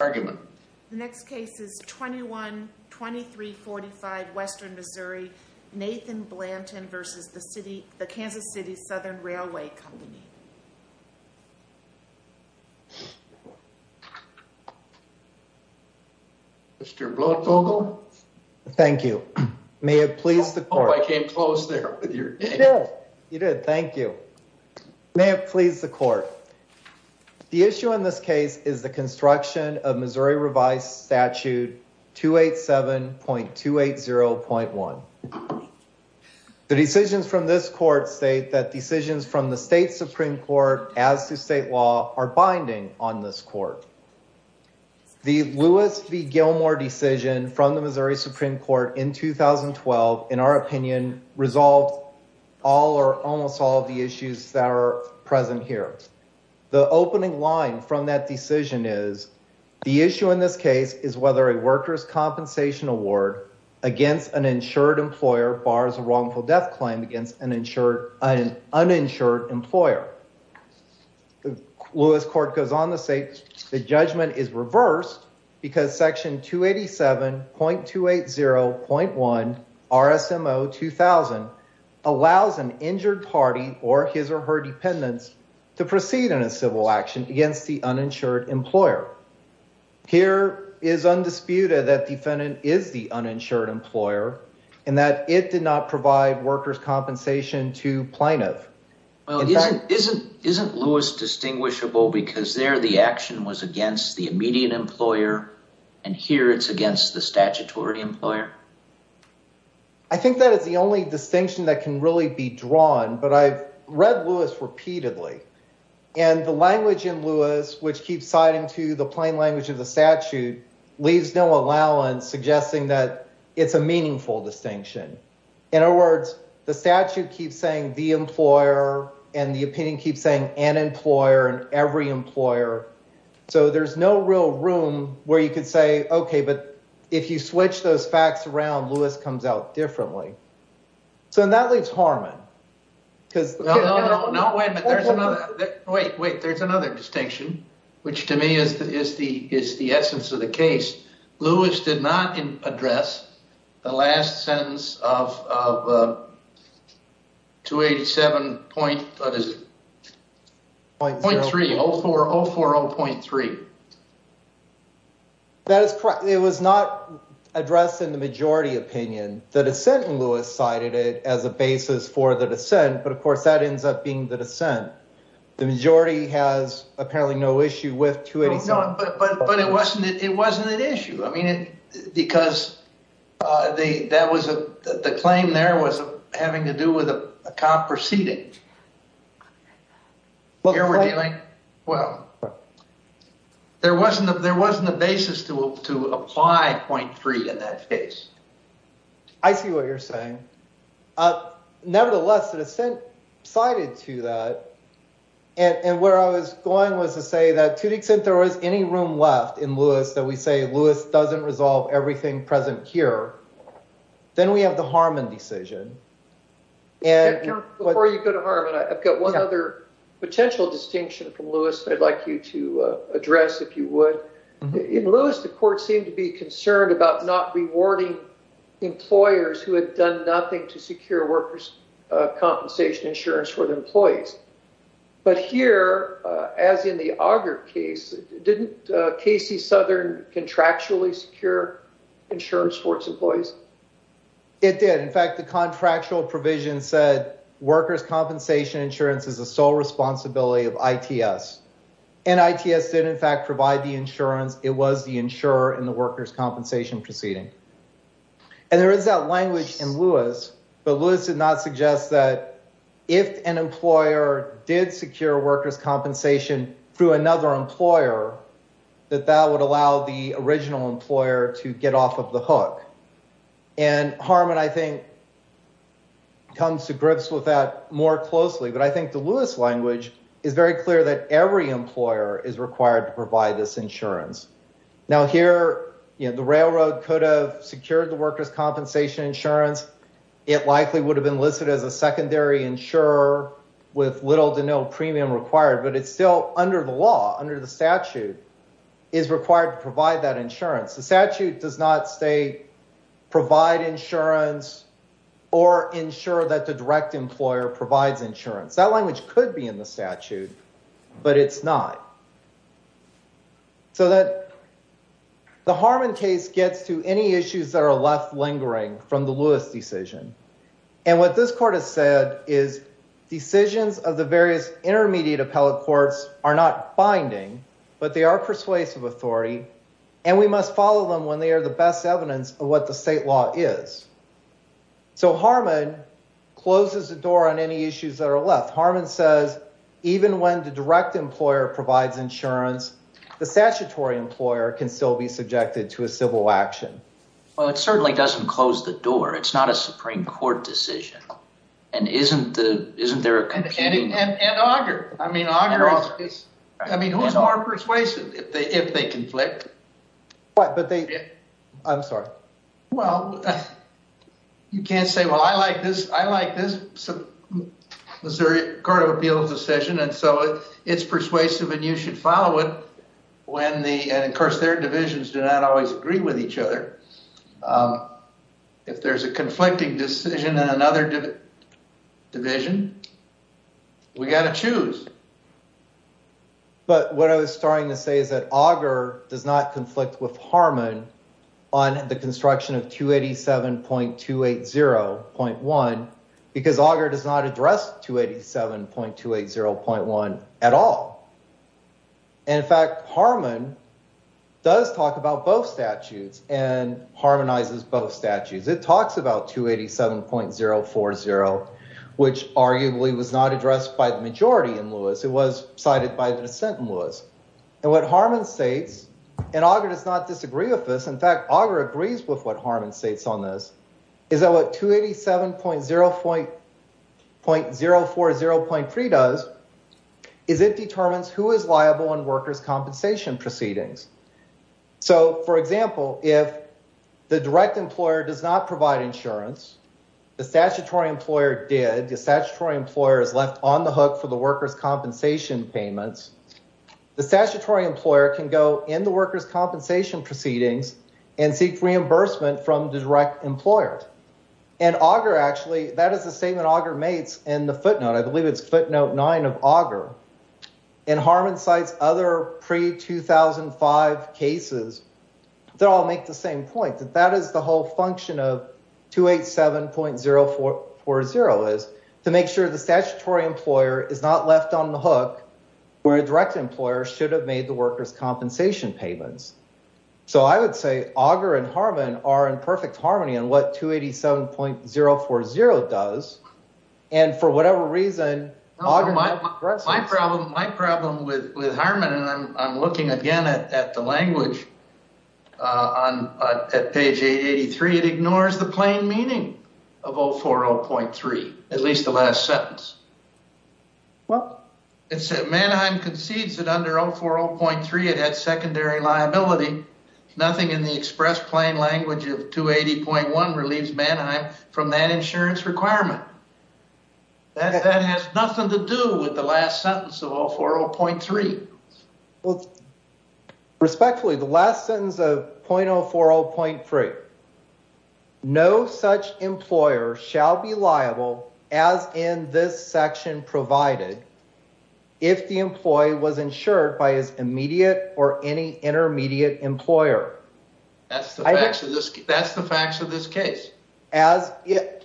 The next case is 21-2345 Western Missouri, Nathan Blanton v. KC Southern Railway Co. Mr. Bloodfogle. Thank you. May it please the court. I came close there. You did. Thank you. May it please the court. The issue in this case is the construction of Missouri Revised Statute 287.280.1. The decisions from this court state that decisions from the state supreme court as to state law are binding on this court. The Lewis v. Gilmore decision from the Missouri present here. The opening line from that decision is the issue in this case is whether a workers compensation award against an insured employer bars a wrongful death claim against an uninsured employer. The Lewis court goes on to say the judgment is reversed because section 287.280.1 RSMO 2000 allows an injured party or his or her dependents to proceed in a civil action against the uninsured employer. Here it is undisputed that defendant is the uninsured employer and that it did not provide workers compensation to plaintiff. Isn't Lewis distinguishable because there the action was against the immediate employer and here it's the statutory employer? I think that is the only distinction that can really be drawn but I've read Lewis repeatedly and the language in Lewis which keeps citing to the plain language of the statute leaves no allowance suggesting that it's a meaningful distinction. In other words, the statute keeps saying the employer and the opinion keeps saying an employer and every if you switch those facts around Lewis comes out differently. So that leaves Harmon because wait wait there's another distinction which to me is the is the is the essence of the case. Lewis did not address the last sentence of of 287 point what is it 0.3 0.4 0.3 0.3 that is correct it was not addressed in the majority opinion the dissent in Lewis cited it as a basis for the dissent but of course that ends up being the dissent the majority has apparently no issue with 287 but but it wasn't it wasn't an issue I mean it because uh they that was a the claim there was having to do with a cop proceeding here we're dealing well there wasn't there wasn't a basis to to apply 0.3 in that case I see what you're saying uh nevertheless the dissent cited to that and and where I was going was to say that to the extent there was any room left in Lewis that we say Lewis doesn't resolve everything present here then we have the Harmon decision and before you go to Harmon one other potential distinction from Lewis I'd like you to address if you would in Lewis the court seemed to be concerned about not rewarding employers who had done nothing to secure workers compensation insurance for the employees but here as in the auger case didn't Casey Southern contractually secure insurance for its employees it did in fact the contractual provision said workers compensation insurance is the sole responsibility of ITS and ITS did in fact provide the insurance it was the insurer in the workers compensation proceeding and there is that language in Lewis but Lewis did not suggest that if an employer did secure workers compensation through another employer that that would allow the original employer to off of the hook and Harmon I think comes to grips with that more closely but I think the Lewis language is very clear that every employer is required to provide this insurance now here you know the railroad could have secured the workers compensation insurance it likely would have been listed as a secondary insurer with little to no premium required but it's still under the law under the statute is required to provide that insurance the statute does not say provide insurance or ensure that the direct employer provides insurance that language could be in the statute but it's not so that the Harmon case gets to any issues that are left lingering from the Lewis decision and what this court has said is decisions of the various intermediate appellate courts are not binding but they are persuasive authority and we must follow them when they are the best evidence of what the state law is so Harmon closes the door on any issues that are left Harmon says even when the direct employer provides insurance the statutory employer can still be subjected to a civil action well it certainly doesn't close the door it's not a it's I mean who's more persuasive if they if they conflict what but they I'm sorry well you can't say well I like this I like this Missouri Court of Appeals decision and so it's persuasive and you should follow it when the and of course their divisions do not always agree with each other if there's a conflicting decision in another division we got to choose but what I was starting to say is that Auger does not conflict with Harmon on the construction of 287.280.1 because Auger does not address 287.280.1 at all and in fact Harmon does talk about both statutes and harmonizes both statutes it talks about 287.040 which arguably was not addressed by the majority in Lewis it was cited by the dissent in Lewis and what Harmon states and Auger does not disagree with this in fact Auger agrees with what Harmon states on this is that what 287.040.3 does is it determines who is liable in workers compensation proceedings so for example if the direct employer does not provide insurance the statutory employer did the hook for the workers compensation payments the statutory employer can go in the workers compensation proceedings and seek reimbursement from the direct employer and Auger actually that is the statement Auger mates in the footnote I believe it's footnote nine of Auger and Harmon cites other pre-2005 cases that all make the same point that that is the whole function of 287.040 is to make sure the statutory employer is not left on the hook where a direct employer should have made the workers compensation payments so I would say Auger and Harmon are in perfect harmony on what 287.040 does and for whatever reason my problem my problem with with Harmon and I'm at least the last sentence well it said Manheim concedes that under 040.3 it had secondary liability nothing in the express plain language of 280.1 relieves Manheim from that insurance requirement that has nothing to do with the last sentence of 040.3 well respectfully the last sentence of 040.3 no such employer shall be liable as in this section provided if the employee was insured by his immediate or any intermediate employer that's the facts of this that's the facts of this case as if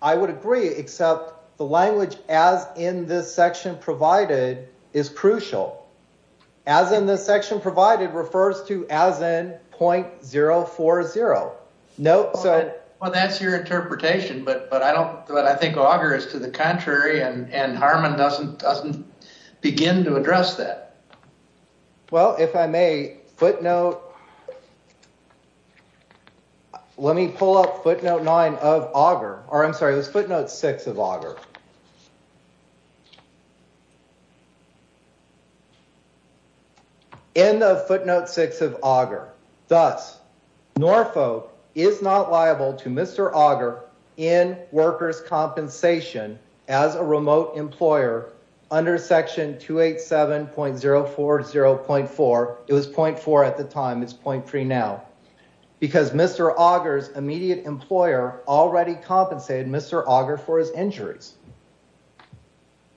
I would agree except the language as in this section provided is crucial as in this section provided refers to as in 0.040 no so well that's your interpretation but but I don't but I think Auger is to the contrary and and Harmon doesn't doesn't begin to address that well if I may footnote let me pull up footnote nine of Auger or I'm sorry it was footnote six of Auger in the footnote six of Auger thus Norfolk is not liable to Mr. Auger in workers compensation as a remote employer under section 287.040.4 it was 0.4 at the time it's 0.3 now because Mr. Auger's immediate employer already compensated Mr. Auger for his injuries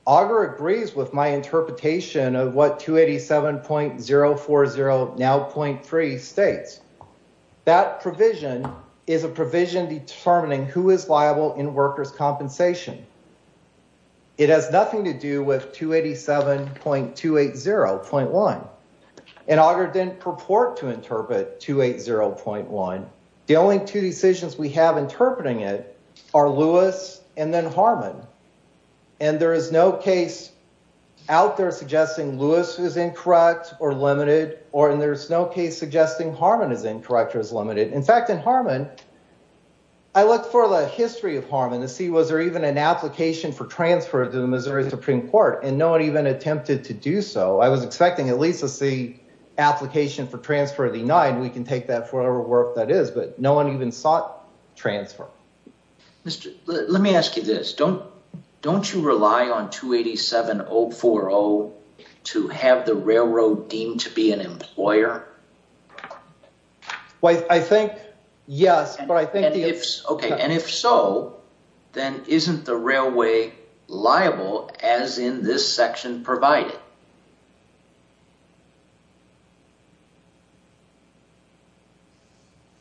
Auger agrees with my interpretation of what 287.040 now 0.3 states that provision is a provision determining who is liable in workers compensation it has nothing to do with 287.280.1 and Auger didn't purport to interpret 280.1 the only two decisions we have interpreting it are Lewis and then Harmon and there is no case out there suggesting Lewis is incorrect or limited or in there's no case suggesting Harmon is incorrect or is limited in fact in Harmon I looked for the history of Harmon to see was there even an application for transfer to the Missouri Supreme Court and no one even attempted to do so I was expecting at least to see application for transfer denied we can take that for whatever work that is but no one even sought transfer Mr. let me ask you this don't don't you rely on 287.040 to have the railroad deemed to be an employer well I think yes but I think it's okay and if so then isn't the railway liable as in this section provided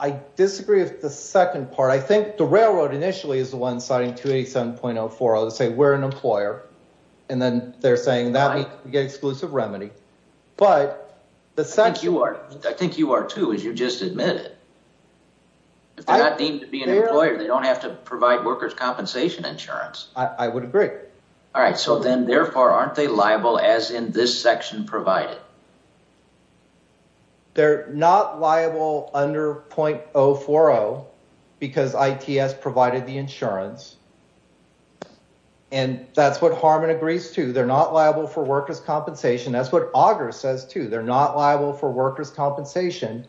I disagree with the second part I think the railroad initially is the one citing 287.040 to say we're an employer and then they're saying that we get exclusive remedy but the fact you are I think you are too as you just admitted if they're not deemed to be an employer they don't have to provide workers compensation insurance I would agree all right so then therefore aren't they liable as in this section provided they're not liable under 0.040 because ITS provided the insurance and that's what Harmon agrees to they're not liable for workers compensation that's what auger says too they're not liable for workers compensation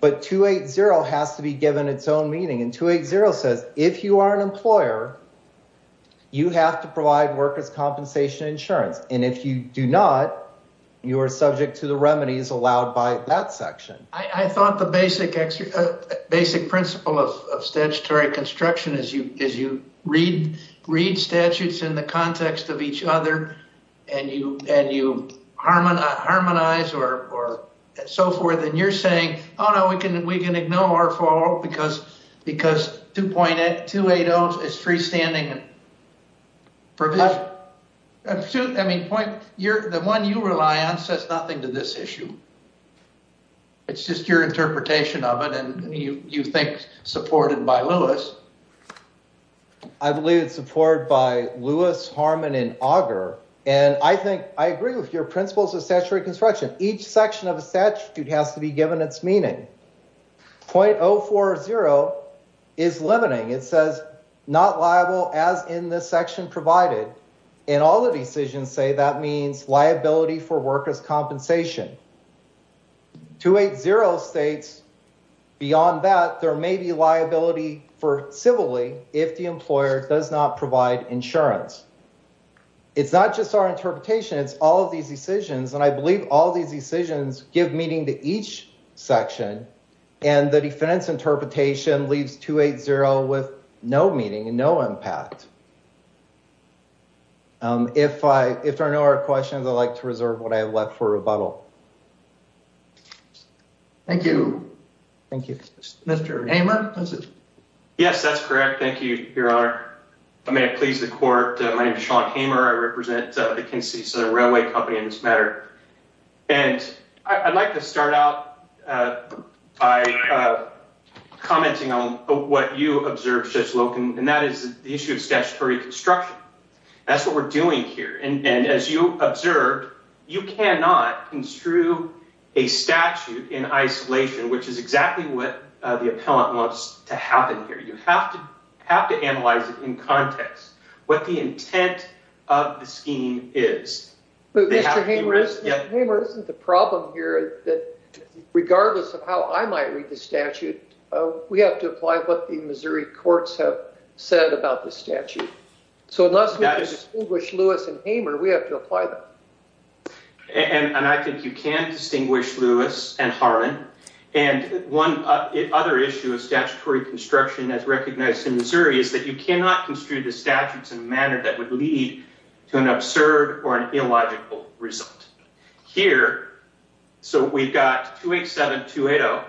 but 280 has to be given its own meaning and 280 says if you are an employer you have to provide workers compensation insurance and if you do not you are subject to the remedies allowed by that section I thought the basic basic principle of statutory construction as you as you read read statutes in the context of each other and you and you harmonize harmonize or or so forth and you're saying oh no we can we can ignore our fault because because 2.8 280 is freestanding provision I mean point you're the one you rely on says nothing to this issue it's just your interpretation of it and you you think supported by Lewis I believe it's supported by Lewis Harmon and Auger and I think I agree with your principles of statutory construction each section of a statute has to be given its meaning .040 is limiting it says not liable as in this section provided and all the decisions say that means liability for workers compensation 280 states beyond that there may be liability for civilly if the employer does not provide insurance it's not just our interpretation it's all of these decisions and I believe all these decisions give meaning to each section and the defense interpretation leaves 280 with no meaning and no impact if I if there are no other questions I'd like to reserve what I have left for rebuttal thank you thank you Mr. Hamer yes that's correct thank you your honor I may have pleased the court my name is Sean Hamer I represent the Kinsey Southern Railway Company in this matter and I'd like to start out by commenting on what you observed Judge Loken and that is the issue of statutory construction that's what we're doing here and and as you observed you cannot construe a statute in isolation which is exactly what the appellant wants to happen here you have have to analyze it in context what the intent of the scheme is Mr. Hamer isn't the problem here that regardless of how I might read the statute we have to apply what the Missouri courts have said about the statute so unless we distinguish Lewis and Hamer we have to apply them and and I think you can distinguish Lewis and Harlan and one other issue of statutory construction as recognized in Missouri is that you cannot construe the statutes in a manner that would lead to an absurd or an illogical result here so we've got 287-280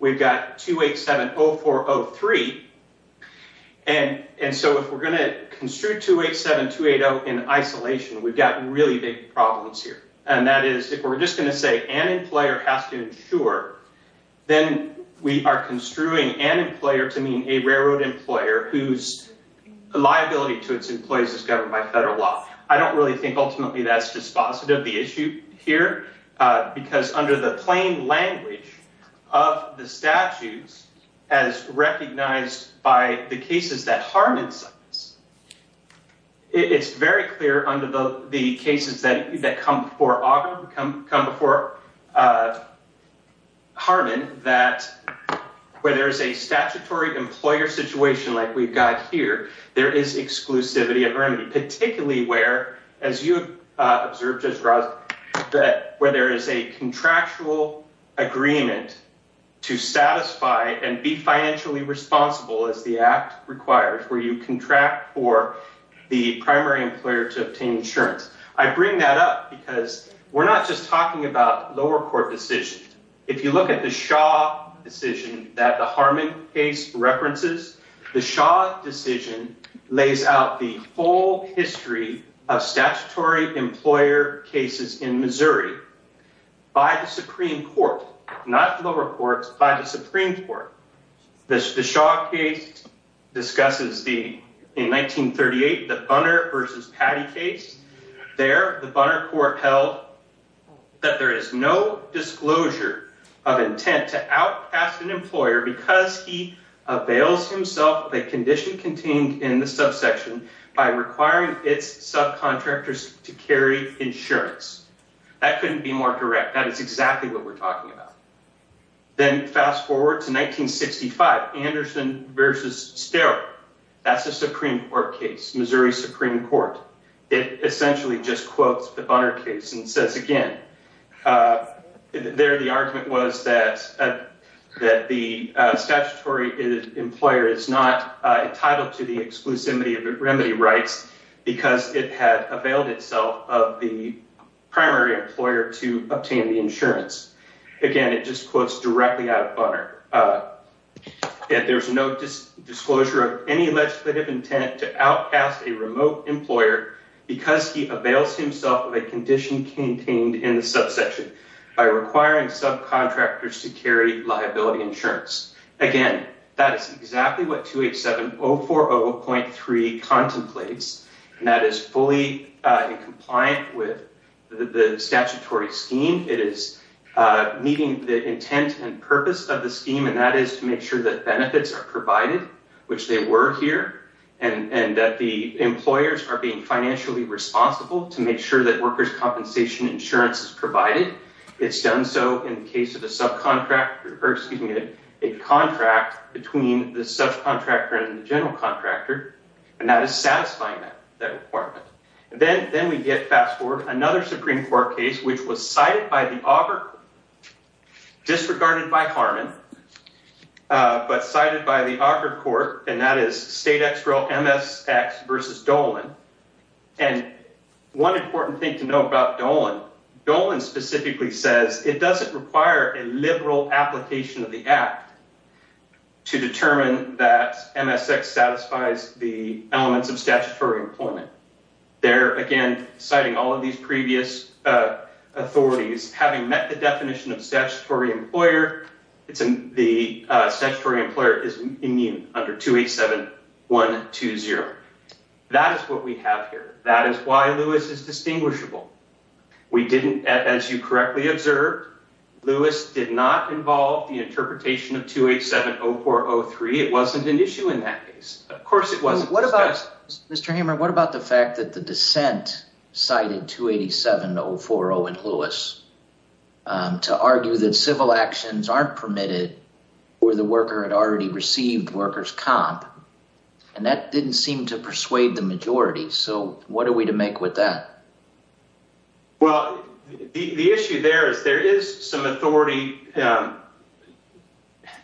we've got 287-0403 and and so if we're going to construe 287-280 in isolation we've got really big problems here and that is if we're just going to say an employer has to ensure then we are construing an employer to mean a railroad employer whose liability to its employees is governed by federal law I don't really think ultimately that's dispositive the issue here because under the plain language of the statutes as recognized by the cases that Harmon signs it's very clear under the cases that that come before come before Harmon that where there is a statutory employer situation like we've got here there is exclusivity of remedy particularly where as you observed that where there is a contractual agreement to satisfy and be financially responsible as the I bring that up because we're not just talking about lower court decision if you look at the Shaw decision that the Harmon case references the Shaw decision lays out the full history of statutory employer cases in Missouri by the Supreme Court not the lower courts by the Supreme Court the Shaw case discusses the in 1938 the Bunner versus Patty case there the Bunner court held that there is no disclosure of intent to outcast an employer because he avails himself of a condition contained in the subsection by requiring its subcontractors to carry insurance that couldn't be more direct that is exactly what we're talking about then fast forward to 1965 Anderson versus Starr that's a Supreme Court case Missouri Supreme Court it essentially just quotes the Bunner case and says again there the argument was that that the statutory employer is not entitled to the exclusivity of remedy rights because it had availed itself of the primary employer to obtain the insurance again it just quotes directly out of Bunner there's no disclosure of any legislative intent to outcast a remote employer because he avails himself of a condition contained in the subsection by requiring subcontractors to carry liability insurance again that is exactly what 287040.3 contemplates and that is fully in compliant with the statutory scheme it is meeting the intent and purpose of the scheme and that is to make sure that benefits are provided which they were here and and that the employers are being financially responsible to make sure that workers compensation insurance is a contract between the subcontractor and the general contractor and that is satisfying that that requirement then then we get fast forward another Supreme Court case which was cited by the auger disregarded by Harman but cited by the auger court and that is state extra msx versus dolan and one important thing to know about dolan dolan specifically says it doesn't require a liberal application of the act to determine that msx satisfies the elements of statutory employment there again citing all of these previous uh authorities having met the definition of statutory employer it's in the uh statutory employer is immune under 287120 that is what we have here that is why lewis is distinguishable we didn't as you correctly observed lewis did not involve the interpretation of 2870403 it wasn't an issue in that case of course it wasn't what about mr hammer what about the fact that the dissent cited 287040 and lewis um to argue that civil actions aren't permitted or the worker had already received workers comp and that didn't seem to persuade the majority so what are we to make with that well the the issue there is there is some authority um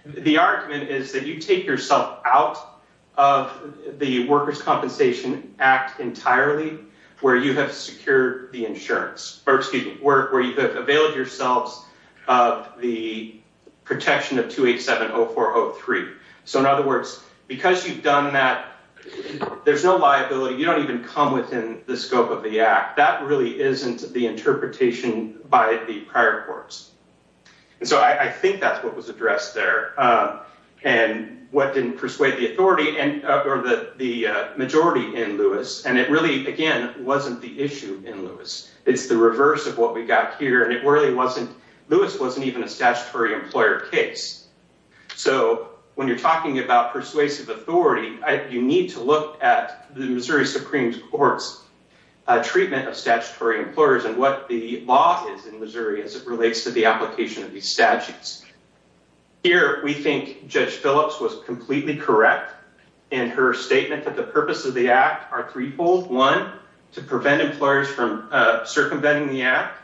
the argument is that you take yourself out of the workers compensation act entirely where you have secured the insurance or excuse me work where you have availed yourselves of the protection of 2870403 so in other words because you've done that there's no liability you don't even come within the scope of the act that really isn't the interpretation by the prior courts and so i think that's what was addressed there uh and what didn't persuade the authority and or the the majority in lewis and it really again wasn't the issue in lewis it's the reverse of what we got here and it really wasn't lewis wasn't even a statutory employer case so when you're talking about persuasive authority you need to look at the missouri supreme court's treatment of statutory employers and what the law is in missouri as it relates to the application of these statutes here we think judge phillips was completely correct in her statement that the purpose of the act are threefold one to prevent employers from uh circumventing the act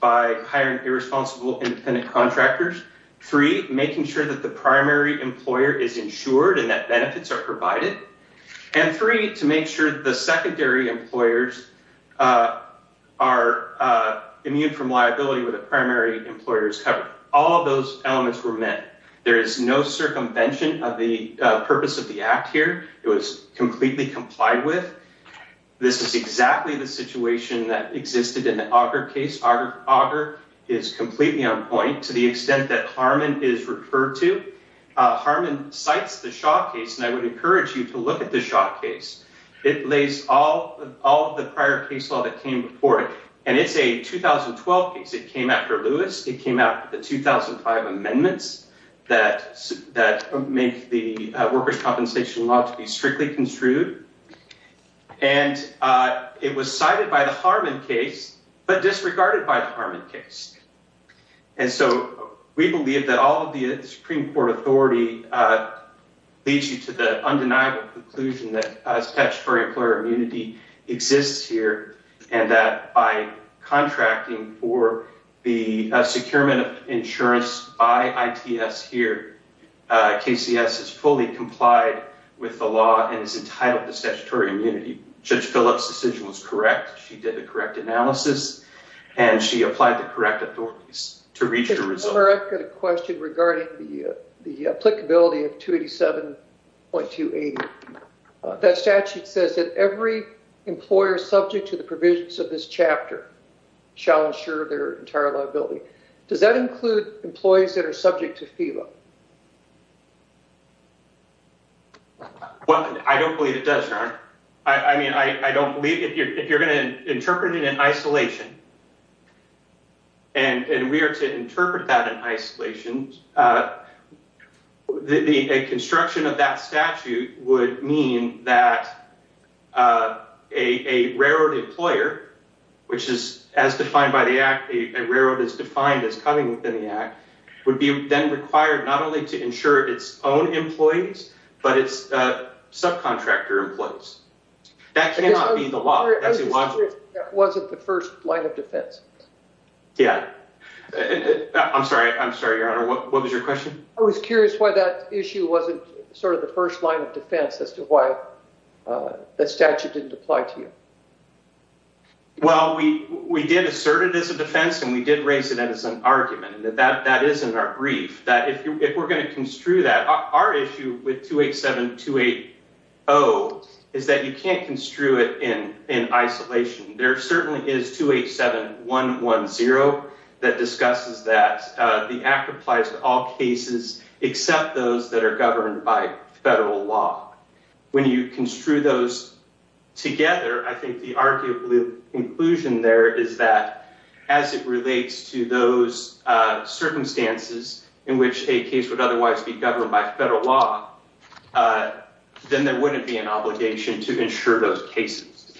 by hiring irresponsible independent contractors three making sure that the primary employer is uh are uh immune from liability where the primary employer is covered all those elements were met there is no circumvention of the purpose of the act here it was completely complied with this is exactly the situation that existed in the auger case auger is completely on point to the extent that harman is referred to uh harman cites the shaw case and i would encourage you to look at the shaw case it lays all all of the prior case law that came before it and it's a 2012 case it came after lewis it came after the 2005 amendments that that make the workers compensation law to be strictly construed and uh it was cited by the harman case but disregarded by the harman case and so we believe that all of the supreme court authority uh leads you to the undeniable conclusion that statutory employer immunity exists here and that by contracting for the securement of insurance by its here kcs is fully complied with the law and is entitled to statutory immunity judge phillips decision was correct she did the correct analysis and she applied the correct authorities to reach the result of the question regarding the the applicability of 287.2 80 that statute says that every employer subject to the provisions of this chapter shall ensure their entire liability does that include employees that are subject to philip what i don't believe it does harm i i mean i i don't believe if you're if you're going to interpret it in isolation and and we are to interpret that in isolation the a construction of that statute would mean that uh a a railroad employer which is as defined by the act a railroad is defined as coming within the act would be then required not only to ensure its own employees but its uh subcontractor employees that cannot be the law that wasn't the first line of defense yeah i'm sorry i'm sorry your honor what was your question i was curious why that issue wasn't sort of the first line of defense as to why uh the statute didn't apply to you well we we did assert it as a defense and we did raise it as an argument that that that is in our brief that if we're going to construe that our issue with 287 280 is that you can't construe it in in isolation there certainly is 287 110 that discusses that uh the act applies to all cases except those that are governed by federal law when you construe those together i as it relates to those uh circumstances in which a case would otherwise be governed by federal law then there wouldn't be an obligation to ensure those cases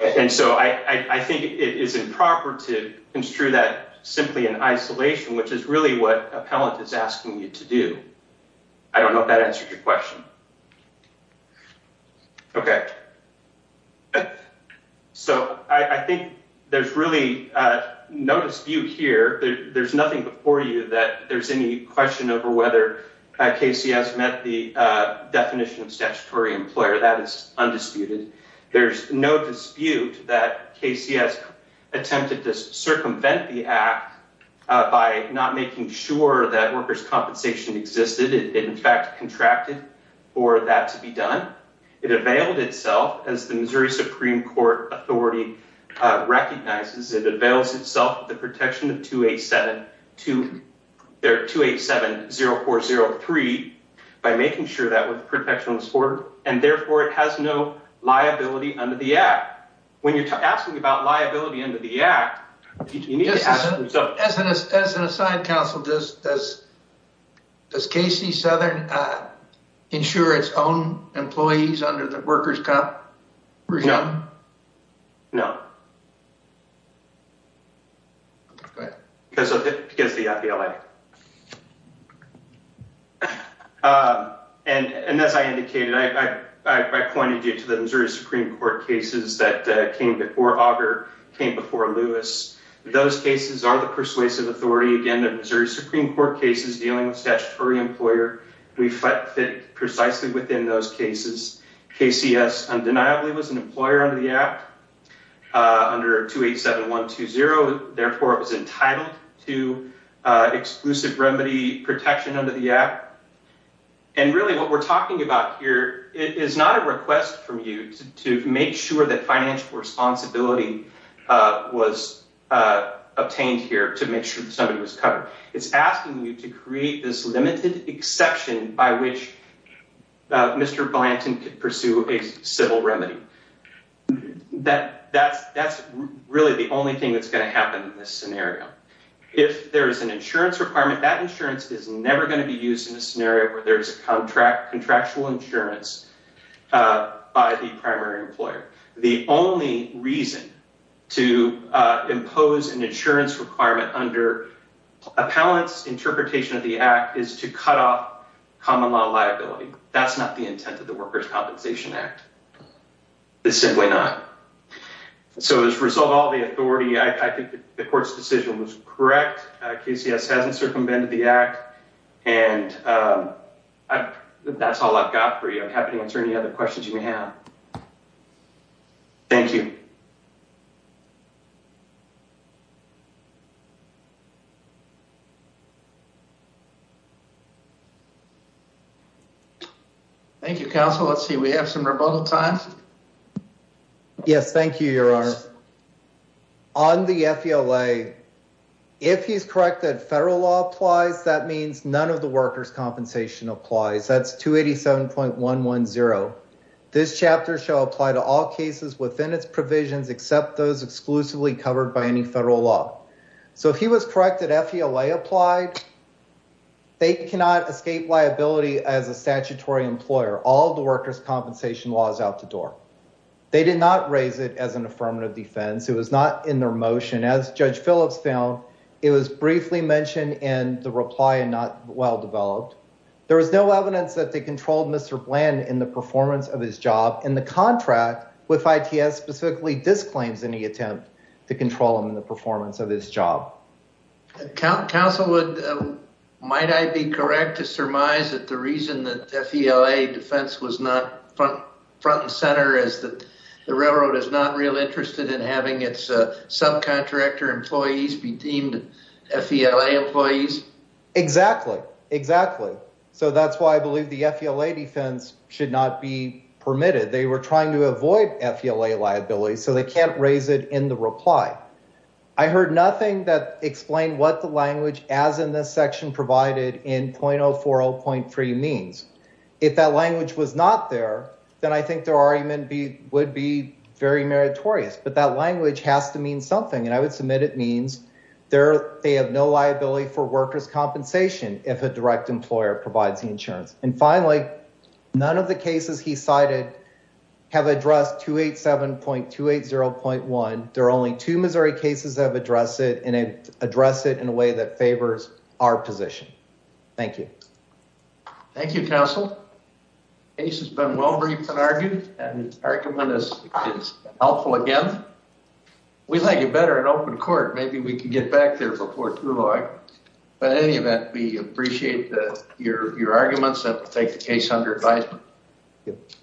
and so i i think it is improper to construe that simply in isolation which is really what appellant is asking you to do i don't know if that answers your question um okay so i i think there's really uh no dispute here there's nothing before you that there's any question over whether kcs met the uh definition of statutory employer that is undisputed there's no dispute that kcs attempted to circumvent the act by not making sure that workers compensation existed it in fact contracted for that to be done it availed itself as the missouri supreme court authority uh recognizes it avails itself the protection of 287 to their 287 0403 by making sure that with protections for and therefore it has no liability under the act when you're as an assigned counsel does does does kc southern uh ensure its own employees under the workers comp no okay because of it because the fba uh and and as i indicated i i i pointed you to the missouri supreme court cases that came before auger came before lewis those cases are the persuasive authority again the missouri supreme court cases dealing with statutory employer we fit precisely within those cases kcs undeniably was an employer under the act uh under 287 120 therefore it was entitled to uh exclusive remedy protection under the app and really what we're talking about here it is not a request from you to make sure that financial responsibility uh was uh obtained here to make sure that somebody was covered it's asking you to create this limited exception by which mr blanton could pursue a civil remedy that that's that's really the only thing that's going to happen in this scenario if there is an insurance requirement that insurance is never going to be in a scenario where there's a contract contractual insurance uh by the primary employer the only reason to uh impose an insurance requirement under appellant's interpretation of the act is to cut off common law liability that's not the intent of the workers compensation act it's simply not so as a result all the authority i think the court's decision was correct kcs hasn't circumvented the act and um i that's all i've got for you i'm happy to answer any other questions you may have thank you thank you counsel let's see we have some rebuttal time yes thank you your honor so i'm going to read the rebuttal first on the fela if he's correct that federal law applies that means none of the workers compensation applies that's 287.110 this chapter shall apply to all cases within its provisions except those exclusively covered by any federal law so if he was corrected fela applied they cannot escape liability as a statutory employer all the workers compensation laws out the door they did not raise it as an affirmative defense it was not in their motion as judge phillips found it was briefly mentioned in the reply and not well developed there was no evidence that they controlled mr bland in the performance of his job in the contract with its specifically disclaims any attempt to reason that fela defense was not front front and center is that the railroad is not real interested in having its subcontractor employees be deemed fela employees exactly exactly so that's why i believe the fela defense should not be permitted they were trying to avoid fela liability so they can't raise it in the reply i heard nothing that explained what the language as in this section provided in .040.3 means if that language was not there then i think their argument be would be very meritorious but that language has to mean something and i would submit it means there they have no liability for workers compensation if a direct employer provides the insurance and finally none of the cases he cited have addressed 287.280.1 there are only two cases that have addressed it and address it in a way that favors our position thank you thank you counsel case has been well briefed and argued and argument is helpful again we like it better in open court maybe we can get back there before too long but in any event we appreciate that your your arguments that take the case under advisement